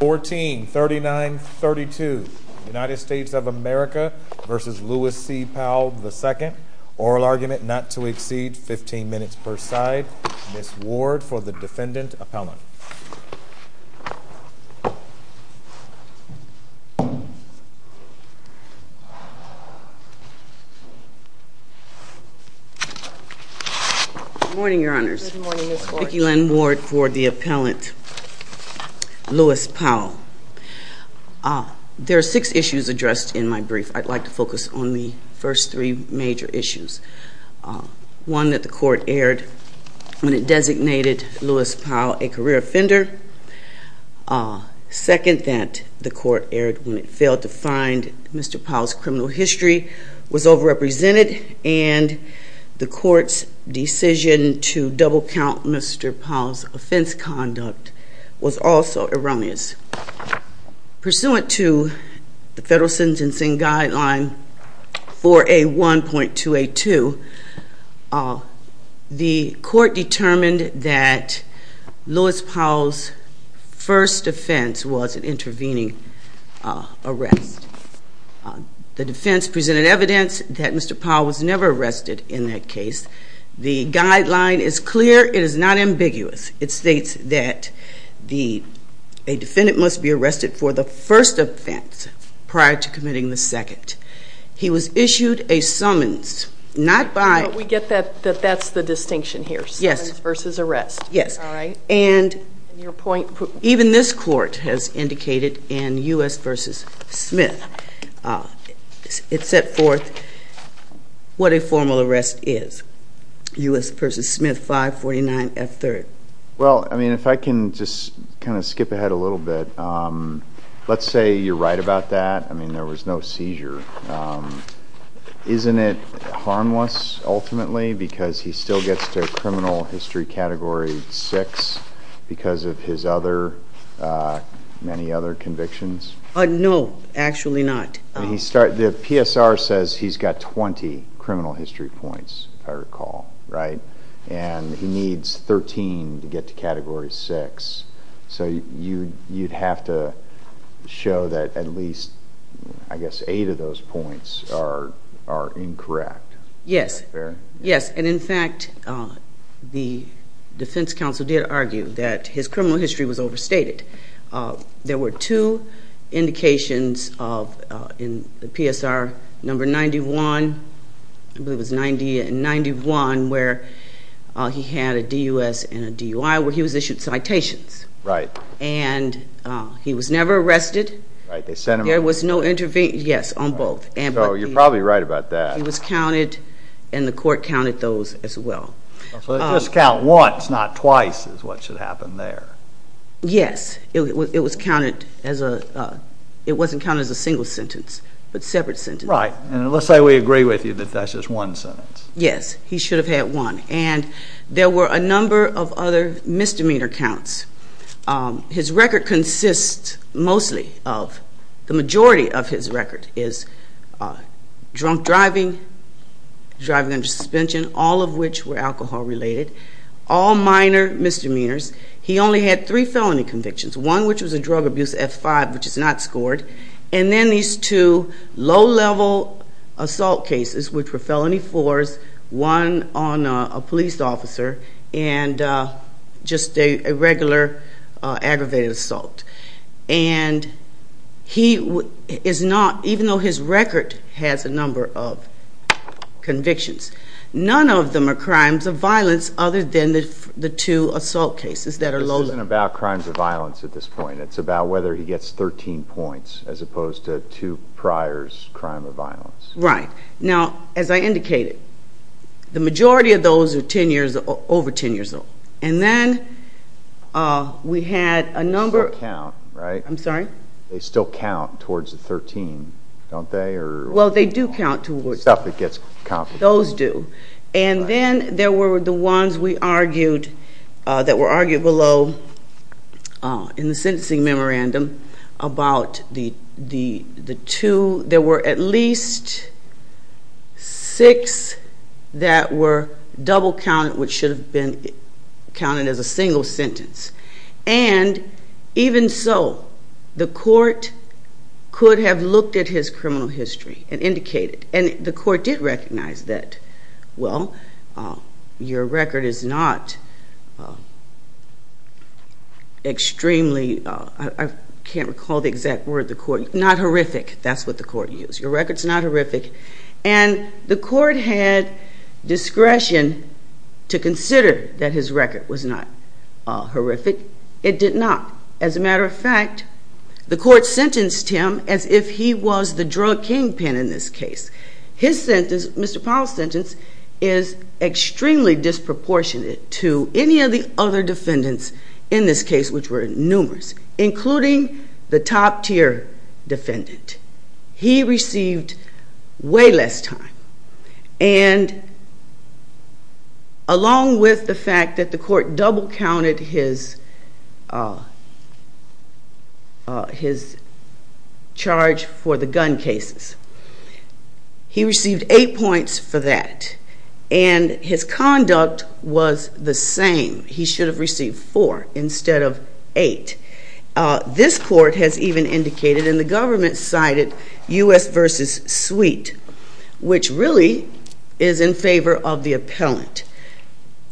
143932 United States of America v. Lewis C. Powell II. Oral argument not to exceed 15 minutes per side. Ms. Ward for the defendant appellant. Good morning, your honors. Good morning, Ms. Ward. Vicki Lynn Ward for the appellant Lewis Powell. There are six issues addressed in my brief. I'd like to focus on the first three major issues. One, that the court erred when it designated Lewis Powell a career offender. Second, that the court erred when it failed to find Mr. Powell's criminal history, was over-represented, and the court's decision to double-count Mr. Powell's offense conduct was also erroneous. Pursuant to the federal sentencing guideline 4A1.282, the court determined that Lewis Powell's first offense was an intervening arrest. The defense presented evidence that Mr. Powell was never arrested in that case. The guideline is clear. It is not ambiguous. It states that a defendant must be arrested for the first offense prior to committing the second. He was issued a summons not by- But we get that that's the distinction here. Yes. Summons versus arrest. Yes. All right. And even this court has indicated in U.S. v. Smith, it's set forth what a formal arrest is. U.S. v. Smith, 549F3rd. Well, I mean, if I can just kind of skip ahead a little bit, let's say you're right about that. I mean, there was no seizure. Isn't it harmless, ultimately, because he still gets to criminal history Category 6 because of his many other convictions? No, actually not. The PSR says he's got 20 criminal history points, if I recall, right? And he needs 13 to get to Category 6. So you'd have to show that at least, I guess, eight of those points are incorrect. Yes. Yes. And, in fact, the defense counsel did argue that his criminal history was overstated. There were two indications in the PSR number 91, I believe it was 91, where he had a D.U.S. and a D.U.I., where he was issued citations. Right. And he was never arrested. Right. There was no intervention, yes, on both. So you're probably right about that. He was counted, and the court counted those as well. So they just count once, not twice, is what should happen there. Yes. It was counted as a, it wasn't counted as a single sentence, but separate sentences. Right. And let's say we agree with you that that's just one sentence. Yes. He should have had one. And there were a number of other misdemeanor counts. His record consists mostly of, the majority of his record is drunk driving, driving under suspension, all of which were alcohol-related, all minor misdemeanors. He only had three felony convictions, one which was a drug abuse F-5, which is not scored, and then these two low-level assault cases, which were felony fours, one on a police officer, and just a regular aggravated assault. And he is not, even though his record has a number of convictions, none of them are crimes of violence other than the two assault cases that are low-level. This isn't about crimes of violence at this point. It's about whether he gets 13 points, as opposed to two priors, crime of violence. Right. Now, as I indicated, the majority of those are 10 years, over 10 years old. And then we had a number. They still count, right? I'm sorry? They still count towards the 13, don't they? Well, they do count towards. Stuff that gets complicated. Those do. And then there were the ones that were argued below in the sentencing memorandum about the two. There were at least six that were double-counted, which should have been counted as a single sentence. And even so, the court could have looked at his criminal history and indicated. And the court did recognize that, well, your record is not extremely, I can't recall the exact word, not horrific. That's what the court used. Your record is not horrific. And the court had discretion to consider that his record was not horrific. It did not. As a matter of fact, the court sentenced him as if he was the drug kingpin in this case. His sentence, Mr. Powell's sentence, is extremely disproportionate to any of the other defendants in this case, which were numerous, including the top-tier defendant. He received way less time. And along with the fact that the court double-counted his charge for the gun cases, he received eight points for that. And his conduct was the same. He should have received four instead of eight. This court has even indicated, and the government cited, U.S. versus Sweet, which really is in favor of the appellant.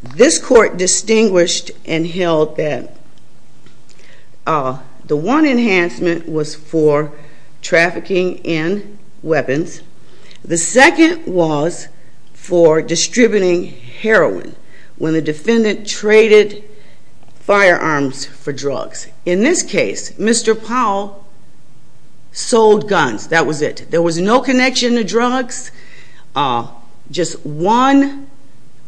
This court distinguished and held that the one enhancement was for trafficking in weapons. The second was for distributing heroin when the defendant traded firearms for drugs. In this case, Mr. Powell sold guns. That was it. There was no connection to drugs, just one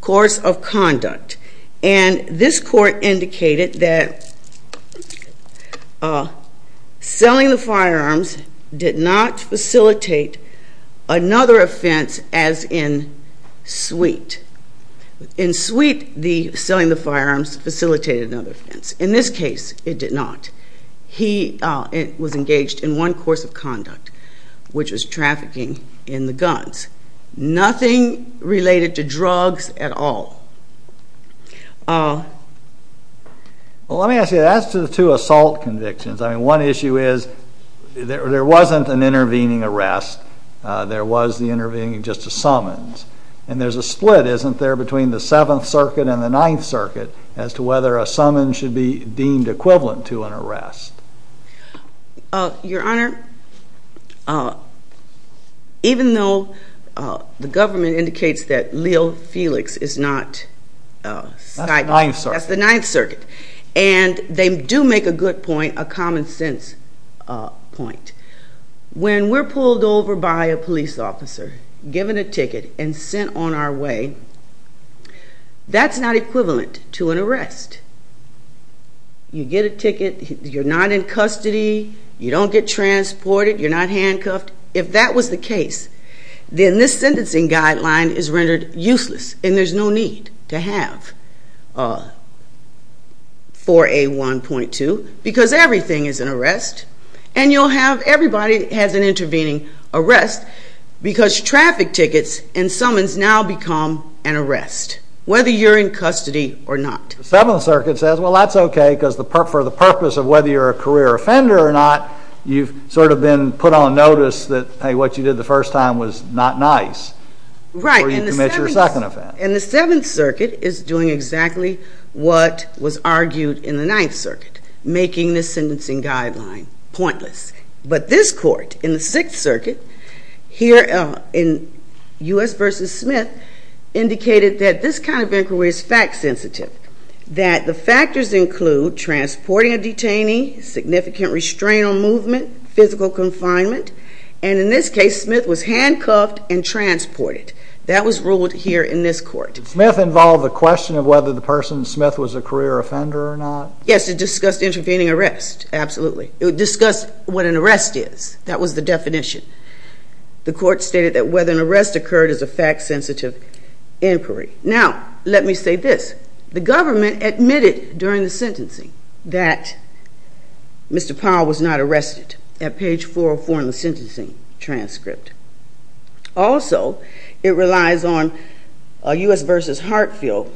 course of conduct. And this court indicated that selling the firearms did not facilitate another offense as in Sweet. In Sweet, selling the firearms facilitated another offense. In this case, it did not. He was engaged in one course of conduct, which was trafficking in the guns. Nothing related to drugs at all. Well, let me ask you, as to the two assault convictions, I mean, one issue is there wasn't an intervening arrest. There was the intervening just a summons. And there's a split, isn't there, between the Seventh Circuit and the Ninth Circuit as to whether a summons should be deemed equivalent to an arrest? Your Honor, even though the government indicates that Leo Felix is not side- That's the Ninth Circuit. That's the Ninth Circuit. And they do make a good point, a common sense point. When we're pulled over by a police officer, given a ticket, and sent on our way, that's not equivalent to an arrest. You get a ticket. You're not in custody. You don't get transported. You're not handcuffed. If that was the case, then this sentencing guideline is rendered useless, and there's no need to have 4A1.2 because everything is an arrest. And you'll have everybody has an intervening arrest because traffic tickets and summons now become an arrest, whether you're in custody or not. The Seventh Circuit says, well, that's okay because for the purpose of whether you're a career offender or not, you've sort of been put on notice that, hey, what you did the first time was not nice. Right. Before you commit your second offense. And the Seventh Circuit is doing exactly what was argued in the Ninth Circuit, making this sentencing guideline pointless. But this court, in the Sixth Circuit, here in U.S. v. Smith, indicated that this kind of inquiry is fact sensitive, that the factors include transporting a detainee, significant restraint on movement, physical confinement, and in this case, Smith was handcuffed and transported. That was ruled here in this court. Did Smith involve the question of whether the person, Smith, was a career offender or not? Yes, it discussed intervening arrest. Absolutely. It discussed what an arrest is. That was the definition. The court stated that whether an arrest occurred is a fact sensitive inquiry. Now, let me say this. The government admitted during the sentencing that Mr. Powell was not arrested at page 404 in the sentencing transcript. Also, it relies on U.S. v. Hartfield,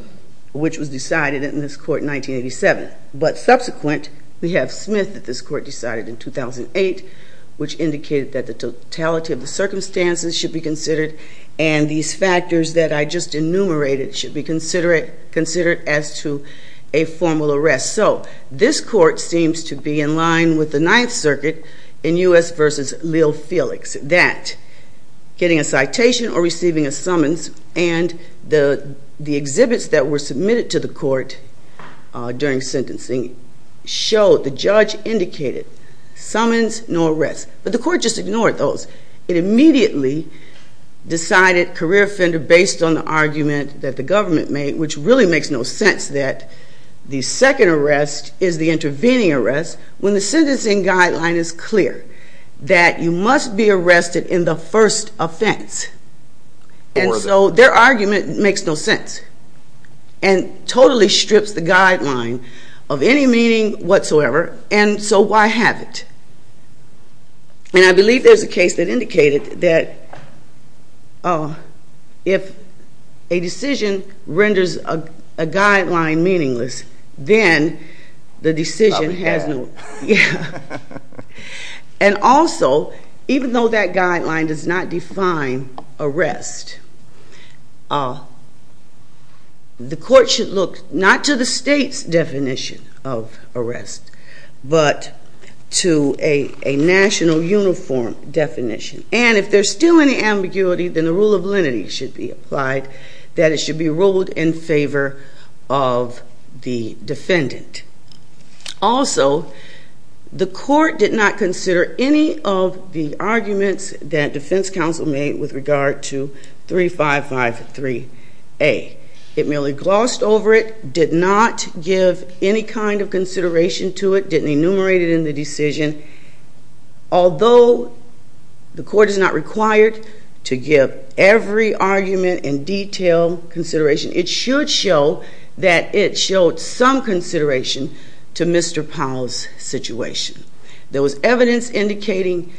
which was decided in this court in 1987. But subsequent, we have Smith that this court decided in 2008, which indicated that the totality of the circumstances should be considered and these factors that I just enumerated should be considered as to a formal arrest. So, this court seems to be in line with the Ninth Circuit in U.S. v. Lil Felix, that getting a citation or receiving a summons and the exhibits that were submitted to the court during sentencing showed, the judge indicated, summons nor arrests. But the court just ignored those. It immediately decided career offender based on the argument that the government made, which really makes no sense that the second arrest is the intervening arrest when the sentencing guideline is clear that you must be arrested in the first offense. And so, their argument makes no sense and totally strips the guideline of any meaning whatsoever. And so, why have it? And I believe there's a case that indicated that if a decision renders a guideline meaningless, then the decision has no- a national uniform definition. And if there's still any ambiguity, then the rule of lenity should be applied, that it should be ruled in favor of the defendant. Also, the court did not consider any of the arguments that defense counsel made with regard to 3553A. It merely glossed over it, did not give any kind of consideration to it, didn't enumerate it in the decision. Although the court is not required to give every argument in detail consideration, it should show that it showed some consideration to Mr. Powell's situation. There was evidence indicating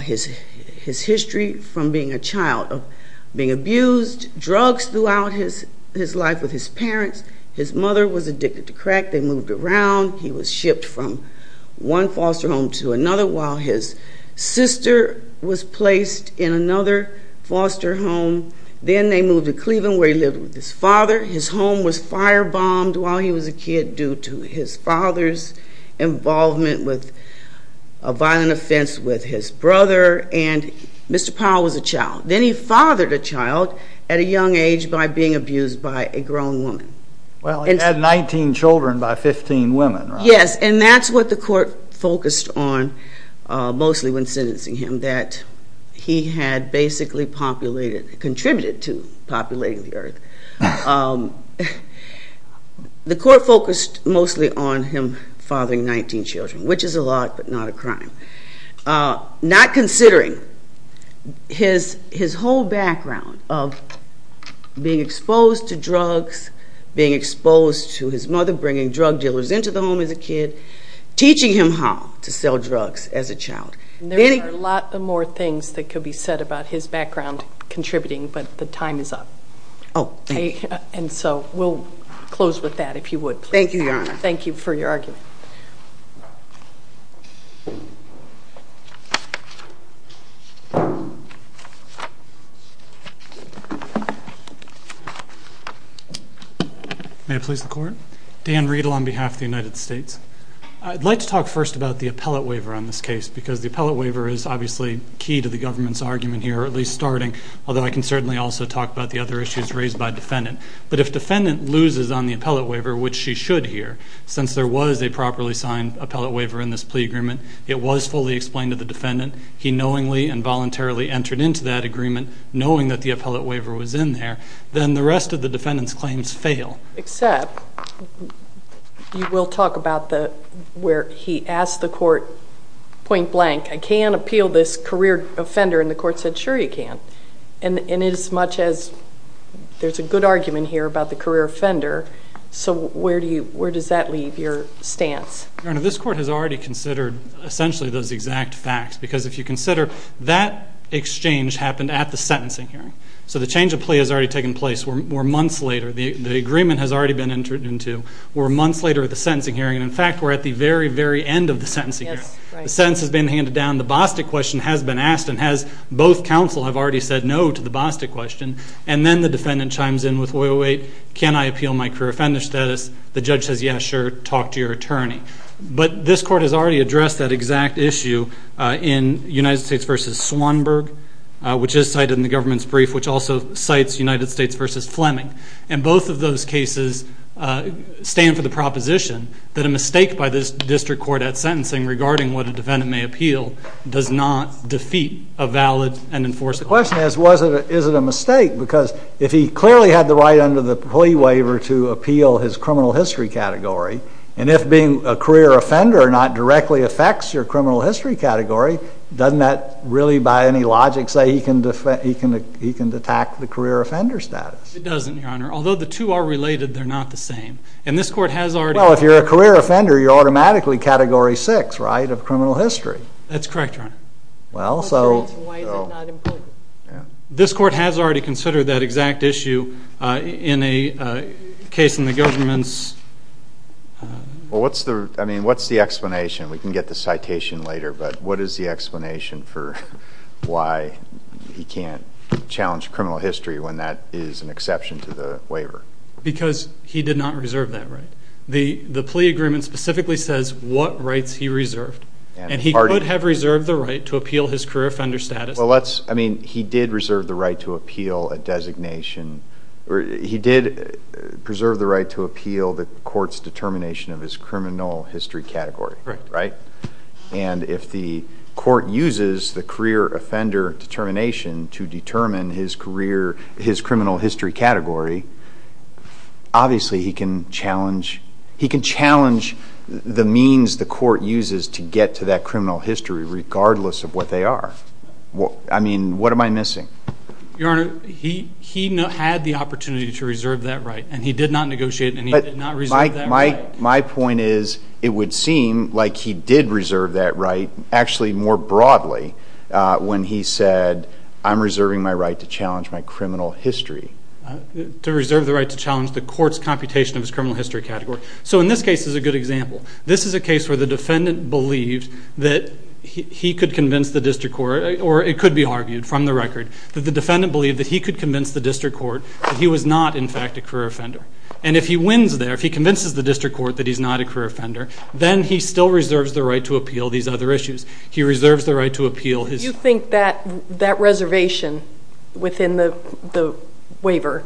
his history from being a child of being abused, drugs throughout his life with his parents. His mother was addicted to crack. They moved around. He was shipped from one foster home to another while his sister was placed in another foster home. Then they moved to Cleveland where he lived with his father. His home was firebombed while he was a kid due to his father's involvement with a violent offense with his brother. And Mr. Powell was a child. Then he fathered a child at a young age by being abused by a grown woman. Well, he had 19 children by 15 women, right? The court focused mostly on him fathering 19 children, which is a lot but not a crime. Not considering his whole background of being exposed to drugs, being exposed to his mother bringing drug dealers into the home as a kid, teaching him how to sell drugs as a child. There are a lot more things that could be said about his background contributing, but the time is up. Oh, thank you. And so we'll close with that if you would. Thank you, Your Honor. Thank you for your argument. May I please have the court? Dan Riedel on behalf of the United States. I'd like to talk first about the appellate waiver on this case because the appellate waiver is obviously key to the government's argument here, or at least starting, although I can certainly also talk about the other issues raised by defendant. But if defendant loses on the appellate waiver, which she should here, since there was a properly signed appellate waiver in this plea agreement, it was fully explained to the defendant. He knowingly and voluntarily entered into that agreement knowing that the appellate waiver was in there. Then the rest of the defendant's claims fail. Except you will talk about where he asked the court point blank, I can appeal this career offender, and the court said, sure you can. And as much as there's a good argument here about the career offender, so where does that leave your stance? Your Honor, this court has already considered essentially those exact facts because if you consider, that exchange happened at the sentencing hearing. So the change of plea has already taken place. We're months later. The agreement has already been entered into. We're months later at the sentencing hearing. In fact, we're at the very, very end of the sentencing hearing. The sentence has been handed down. The Bostick question has been asked, and both counsel have already said no to the Bostick question. And then the defendant chimes in with, wait, can I appeal my career offender status? The judge says, yeah, sure, talk to your attorney. But this court has already addressed that exact issue in United States v. Swanberg, which is cited in the government's brief, which also cites United States v. Fleming. And both of those cases stand for the proposition that a mistake by this district court at sentencing regarding what a defendant may appeal does not defeat a valid and enforceable. The question is, is it a mistake? Because if he clearly had the right under the plea waiver to appeal his criminal history category, and if being a career offender not directly affects your criminal history category, doesn't that really by any logic say he can attack the career offender status? It doesn't, Your Honor. Although the two are related, they're not the same. And this court has already- Well, if you're a career offender, you're automatically Category 6, right, of criminal history. That's correct, Your Honor. Well, so- Why is it not important? This court has already considered that exact issue in a case in the government's- Well, what's the explanation? We can get the citation later, but what is the explanation for why he can't challenge criminal history when that is an exception to the waiver? Because he did not reserve that right. The plea agreement specifically says what rights he reserved. And he could have reserved the right to appeal his career offender status. Well, let's-I mean, he did reserve the right to appeal a designation. He did preserve the right to appeal the court's determination of his criminal history category. Right. And if the court uses the career offender determination to determine his career-his criminal history category, obviously he can challenge-he can challenge the means the court uses to get to that criminal history regardless of what they are. I mean, what am I missing? Your Honor, he had the opportunity to reserve that right, and he did not negotiate, and he did not reserve that right. My point is it would seem like he did reserve that right actually more broadly when he said, I'm reserving my right to challenge my criminal history. To reserve the right to challenge the court's computation of his criminal history category. So in this case is a good example. This is a case where the defendant believed that he could convince the district court-or it could be argued from the record- that the defendant believed that he could convince the district court that he was not, in fact, a career offender. And if he wins there, if he convinces the district court that he's not a career offender, then he still reserves the right to appeal these other issues. He reserves the right to appeal his- You think that reservation within the waiver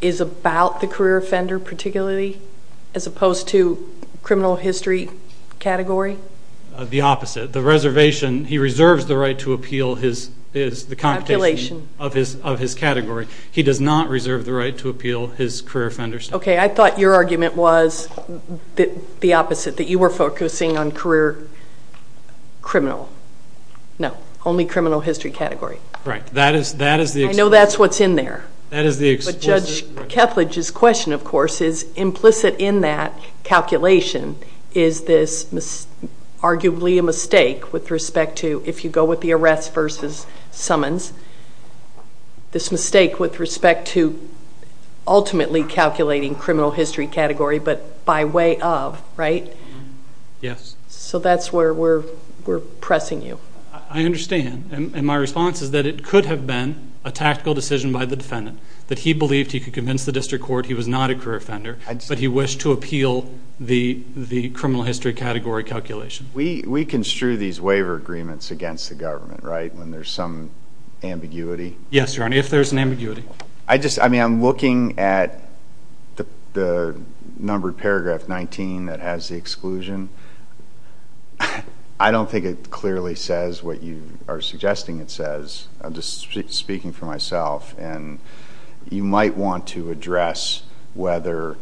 is about the career offender particularly as opposed to criminal history category? The opposite. The reservation-he reserves the right to appeal his-the computation of his category. He does not reserve the right to appeal his career offenders category. Okay. I thought your argument was the opposite, that you were focusing on career criminal. No. Only criminal history category. Right. That is the- I know that's what's in there. That is the- But Judge Kethledge's question, of course, is implicit in that calculation is this arguably a mistake with respect to- this mistake with respect to ultimately calculating criminal history category, but by way of, right? Yes. So that's where we're pressing you. I understand. And my response is that it could have been a tactical decision by the defendant, that he believed he could convince the district court he was not a career offender, but he wished to appeal the criminal history category calculation. We construe these waiver agreements against the government, right, when there's some ambiguity? Yes, Your Honor, if there's an ambiguity. I just-I mean, I'm looking at the numbered paragraph 19 that has the exclusion. I don't think it clearly says what you are suggesting it says. I'm just speaking for myself. You might want to address whether,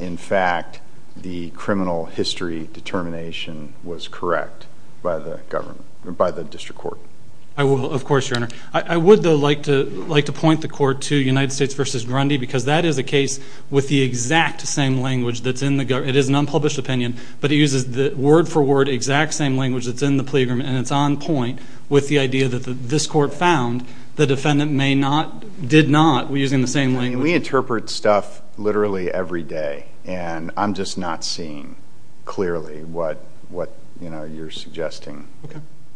in fact, the criminal history determination was correct by the district court. I will, of course, Your Honor. I would, though, like to point the court to United States v. Grundy, because that is a case with the exact same language that's in the-it is an unpublished opinion, but it uses word for word exact same language that's in the plea agreement, and it's on point with the idea that this court found the defendant may not-did not, using the same language. I mean, we interpret stuff literally every day, and I'm just not seeing clearly what, you know, you're suggesting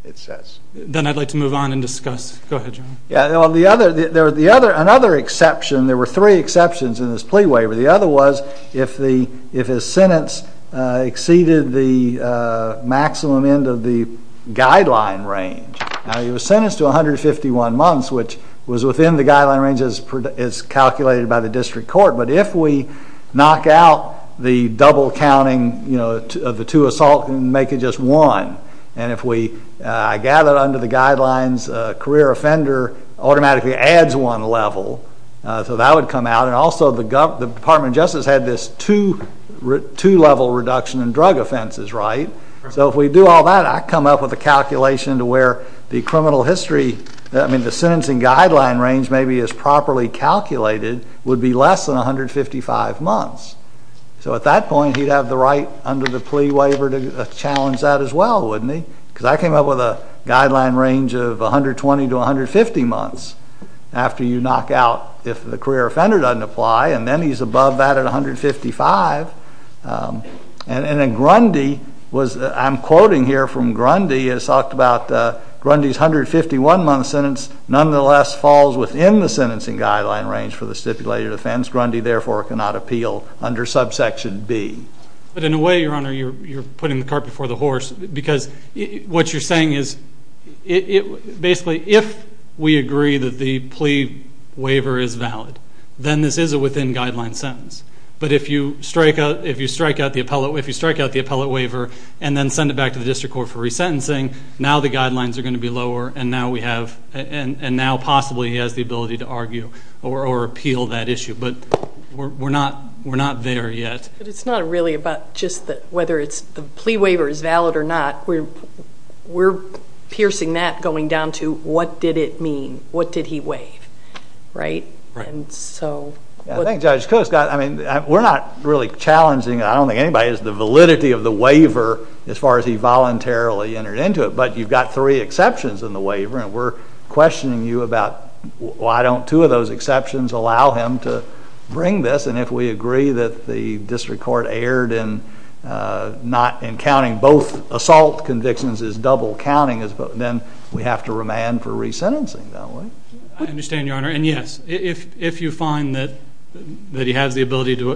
it says. Then I'd like to move on and discuss. Go ahead, Your Honor. Well, the other-another exception, there were three exceptions in this plea waiver. The other was if the-if his sentence exceeded the maximum end of the guideline range. Now, he was sentenced to 151 months, which was within the guideline range as calculated by the district court, but if we knock out the double counting, you know, of the two assault and make it just one, and if we-I gather under the guidelines a career offender automatically adds one level, so that would come out, and also the government-the Department of Justice had this two-two level reduction in drug offenses, right? So if we do all that, I come up with a calculation to where the criminal history-I mean, the sentencing guideline range maybe is properly calculated would be less than 155 months. So at that point, he'd have the right under the plea waiver to challenge that as well, wouldn't he? Because I came up with a guideline range of 120 to 150 months after you knock out if the career offender doesn't apply, and then he's above that at 155, and then Grundy was-I'm quoting here from Grundy. It's talked about Grundy's 151-month sentence nonetheless falls within the sentencing guideline range for the stipulated offense. Grundy, therefore, cannot appeal under subsection B. But in a way, Your Honor, you're putting the cart before the horse, because what you're saying is basically if we agree that the plea waiver is valid, then this is a within guideline sentence. But if you strike out the appellate waiver and then send it back to the district court for resentencing, now the guidelines are going to be lower, and now we have-and now possibly he has the ability to argue or appeal that issue. But we're not there yet. But it's not really about just whether the plea waiver is valid or not. We're piercing that going down to what did it mean? What did he waive? Right? Right. And so- I think Judge Coates got-I mean, we're not really challenging, I don't think anybody is, the validity of the waiver as far as he voluntarily entered into it. But you've got three exceptions in the waiver, and we're questioning you about why don't two of those exceptions allow him to bring this, and if we agree that the district court erred in not-in counting both assault convictions as double counting, then we have to remand for resentencing, don't we? I understand, Your Honor. And, yes, if you find that he has the ability to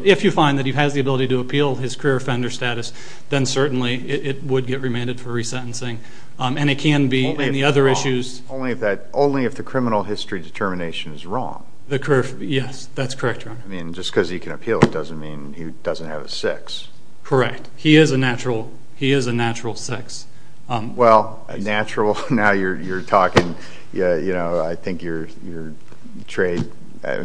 appeal his career offender status, then certainly it would get remanded for resentencing. And it can be in the other issues- Only if the criminal history determination is wrong. Yes, that's correct, Your Honor. I mean, just because he can appeal it doesn't mean he doesn't have a six. Correct. He is a natural six. Well, natural, now you're talking, you know, I think you're betrayed.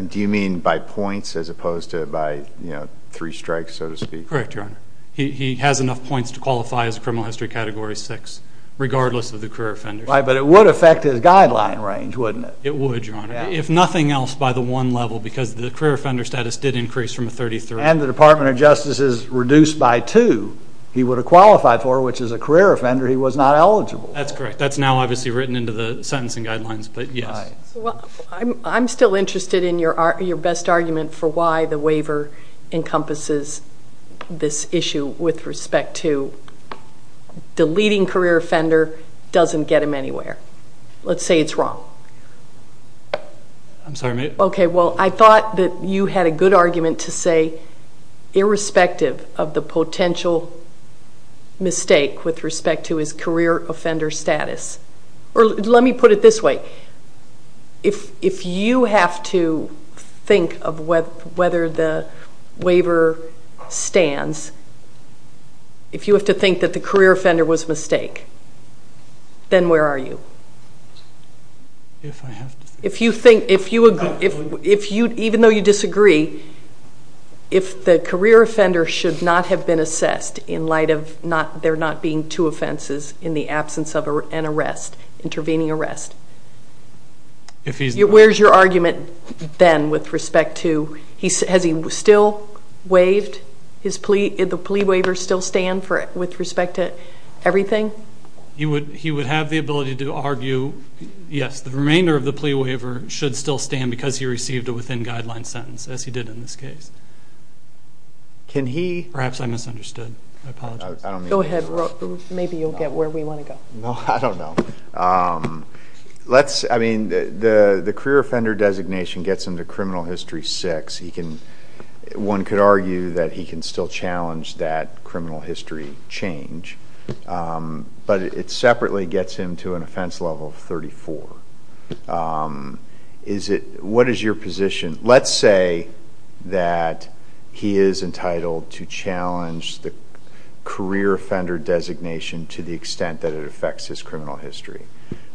Do you mean by points as opposed to by, you know, three strikes, so to speak? Correct, Your Honor. He has enough points to qualify as criminal history category six, regardless of the career offender status. Right, but it would affect his guideline range, wouldn't it? It would, Your Honor. If nothing else, by the one level, because the career offender status did increase from a 33. And the Department of Justice is reduced by two. He would have qualified for it, which, as a career offender, he was not eligible. That's correct. That's now obviously written into the sentencing guidelines, but, yes. I'm still interested in your best argument for why the waiver encompasses this issue with respect to deleting career offender doesn't get him anywhere. Let's say it's wrong. I'm sorry, ma'am? Okay, well, I thought that you had a good argument to say, irrespective of the potential mistake with respect to his career offender status. Let me put it this way. If you have to think of whether the waiver stands, if you have to think that the career offender was a mistake, then where are you? If I have to think? If you think, even though you disagree, if the career offender should not have been assessed in light of there not being two offenses in the absence of an arrest, intervening arrest, where's your argument then with respect to has he still waived his plea? Did the plea waiver still stand with respect to everything? He would have the ability to argue, yes, the remainder of the plea waiver should still stand because he received a within-guideline sentence, as he did in this case. Perhaps I misunderstood. I apologize. Go ahead. Maybe you'll get where we want to go. No, I don't know. The career offender designation gets him to criminal history six. One could argue that he can still challenge that criminal history change, but it separately gets him to an offense level of 34. What is your position? Let's say that he is entitled to challenge the career offender designation to the extent that it affects his criminal history,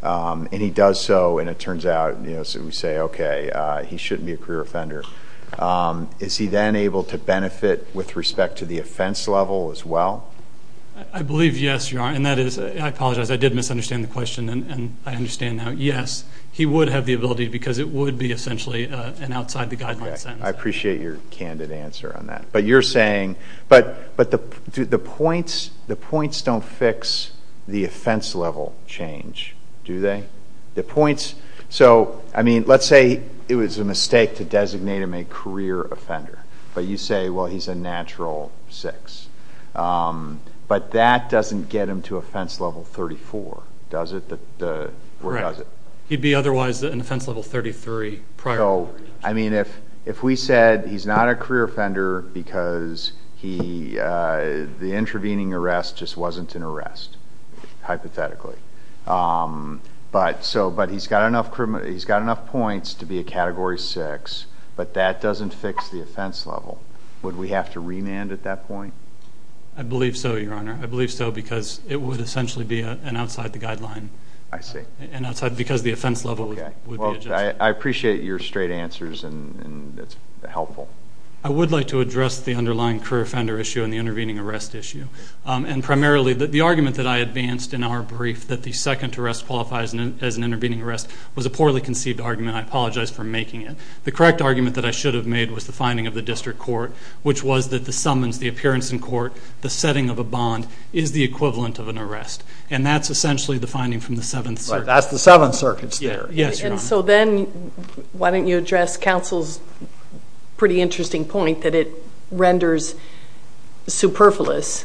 and he does so, and it turns out, we say, okay, he shouldn't be a career offender. Is he then able to benefit with respect to the offense level as well? I believe, yes, you are, and that is, I apologize, I did misunderstand the question, and I understand now, yes, he would have the ability because it would be essentially an outside-the-guideline sentence. I appreciate your candid answer on that. But you're saying, but the points don't fix the offense level change, do they? The points, so, I mean, let's say it was a mistake to designate him a career offender, but you say, well, he's a natural six, but that doesn't get him to offense level 34, does it? Correct. He'd be otherwise in offense level 33 prior. So, I mean, if we said he's not a career offender because the intervening arrest just wasn't an arrest, hypothetically, but he's got enough points to be a category six, but that doesn't fix the offense level, would we have to remand at that point? I believe so, Your Honor. I believe so because it would essentially be an outside-the-guideline. I see. Because the offense level would be adjusted. Okay. Well, I appreciate your straight answers, and it's helpful. I would like to address the underlying career offender issue and the intervening arrest issue. And primarily, the argument that I advanced in our brief, that the second arrest qualifies as an intervening arrest, was a poorly conceived argument. I apologize for making it. The correct argument that I should have made was the finding of the district court, which was that the summons, the appearance in court, the setting of a bond, is the equivalent of an arrest. And that's essentially the finding from the Seventh Circuit. Right. That's the Seventh Circuit's theory. Yes, Your Honor. And so then why don't you address counsel's pretty interesting point that it renders superfluous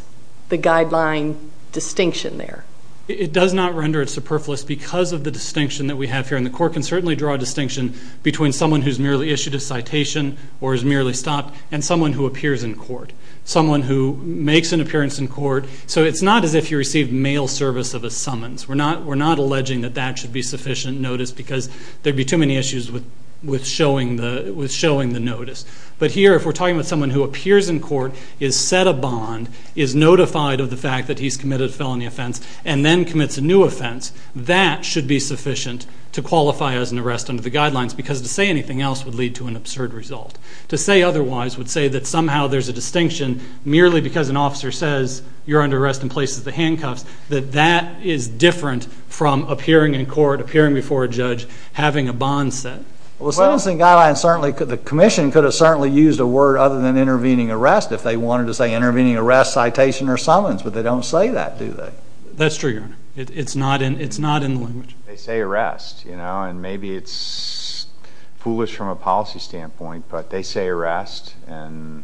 the guideline distinction there. It does not render it superfluous because of the distinction that we have here. And the court can certainly draw a distinction between someone who's merely issued a citation or is merely stopped and someone who appears in court. Someone who makes an appearance in court. So it's not as if you received mail service of a summons. We're not alleging that that should be sufficient notice because there would be too many issues with showing the notice. But here, if we're talking about someone who appears in court, is set a bond, is notified of the fact that he's committed a felony offense, and then commits a new offense, that should be sufficient to qualify as an arrest under the guidelines, because to say anything else would lead to an absurd result. To say otherwise would say that somehow there's a distinction, merely because an officer says you're under arrest and places the handcuffs, that that is different from appearing in court, appearing before a judge, having a bond set. Well, the Sentencing Guidelines certainly could, the Commission could have certainly used a word other than intervening arrest if they wanted to say intervening arrest, citation, or summons. But they don't say that, do they? That's true, Your Honor. It's not in the language. They say arrest, you know, and maybe it's foolish from a policy standpoint, but they say arrest, and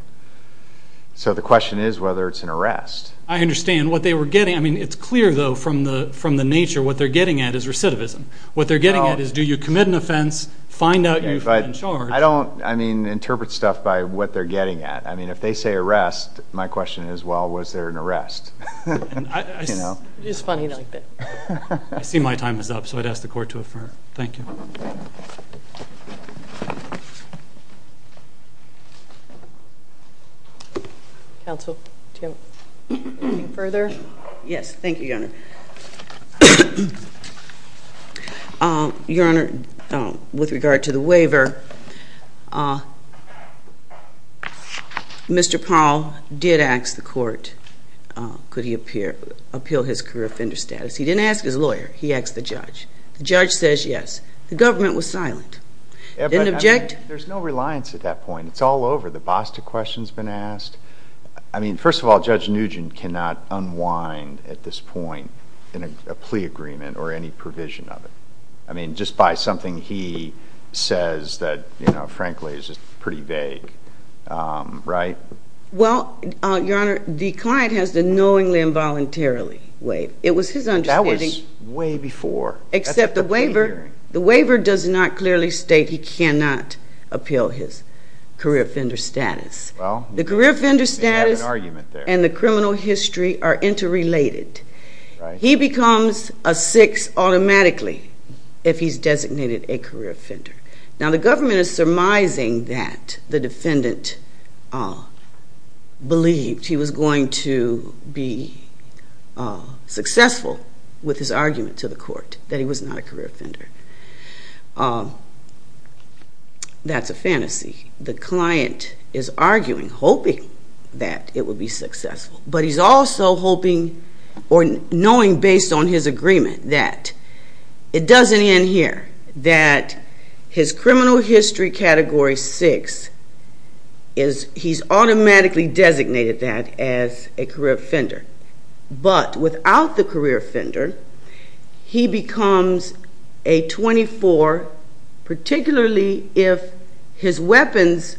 so the question is whether it's an arrest. I understand. What they were getting, I mean, it's clear, though, from the nature, what they're getting at is recidivism. What they're getting at is do you commit an offense, find out you're in charge. I don't, I mean, interpret stuff by what they're getting at. I mean, if they say arrest, my question is, well, was there an arrest? It is funny like that. I see my time is up, so I'd ask the Court to affirm. Thank you. Counsel, do you have anything further? Yes. Thank you, Your Honor. Your Honor, with regard to the waiver, Mr. Powell did ask the Court could he appeal his career offender status. He didn't ask his lawyer. He asked the judge. The judge says yes. The government was silent. There's no reliance at that point. It's all over. The BOSTA question has been asked. I mean, first of all, Judge Nugent cannot unwind at this point in a plea agreement or any provision of it. I mean, just by something he says that, you know, frankly is pretty vague, right? Well, Your Honor, the client has to knowingly and voluntarily waive. It was his understanding. That was way before. Except the waiver does not clearly state he cannot appeal his career offender status. The career offender status and the criminal history are interrelated. He becomes a 6 automatically if he's designated a career offender. Now, the government is surmising that the defendant believed he was going to be successful with his argument to the Court that he was not a career offender. That's a fantasy. The client is arguing, hoping that it would be successful, but he's also hoping or knowing based on his agreement that it doesn't end here, that his criminal history category 6, he's automatically designated that as a career offender. But without the career offender, he becomes a 24, particularly if his weapons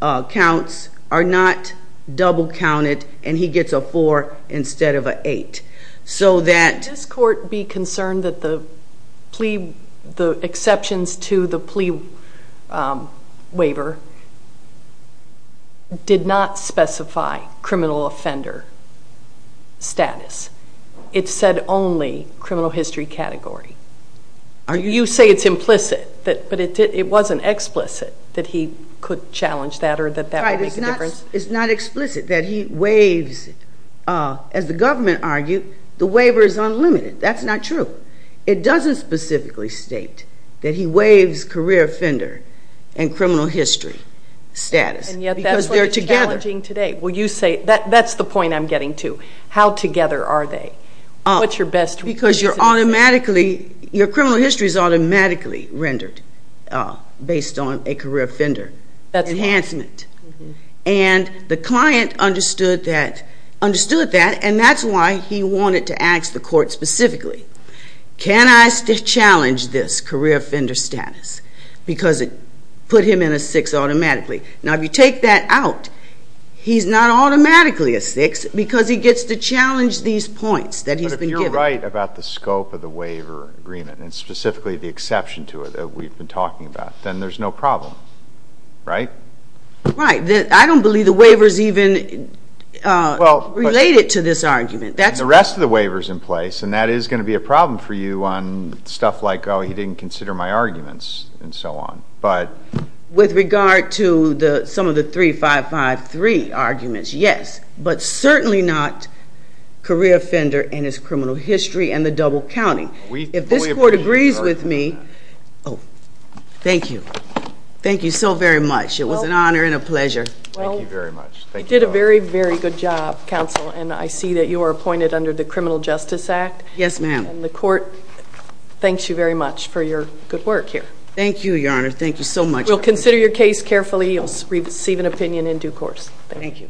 counts are not double counted and he gets a 4 instead of an 8. Would this Court be concerned that the exceptions to the plea waiver did not specify criminal offender status? It said only criminal history category. You say it's implicit, but it wasn't explicit that he could challenge that or that that would make a difference? It's not explicit that he waives. As the government argued, the waiver is unlimited. That's not true. It doesn't specifically state that he waives career offender and criminal history status. And yet that's what's challenging today. That's the point I'm getting to. How together are they? Because your criminal history is automatically rendered based on a career offender enhancement. And the client understood that, and that's why he wanted to ask the Court specifically, can I challenge this career offender status because it put him in a 6 automatically? Now, if you take that out, he's not automatically a 6 because he gets to challenge these points that he's been given. But if you're right about the scope of the waiver agreement and specifically the exception to it that we've been talking about, then there's no problem, right? Right. I don't believe the waiver is even related to this argument. The rest of the waiver is in place, and that is going to be a problem for you on stuff like, oh, he didn't consider my arguments and so on. With regard to some of the 3553 arguments, yes, but certainly not career offender and his criminal history and the double counting. If this Court agrees with me, oh, thank you. Thank you so very much. It was an honor and a pleasure. Thank you very much. You did a very, very good job, counsel, and I see that you are appointed under the Criminal Justice Act. Yes, ma'am. And the Court thanks you very much for your good work here. Thank you, Your Honor. Thank you so much. We'll consider your case carefully. You'll receive an opinion in due course. Thank you.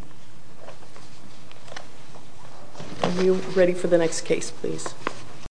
Are you ready for the next case, please?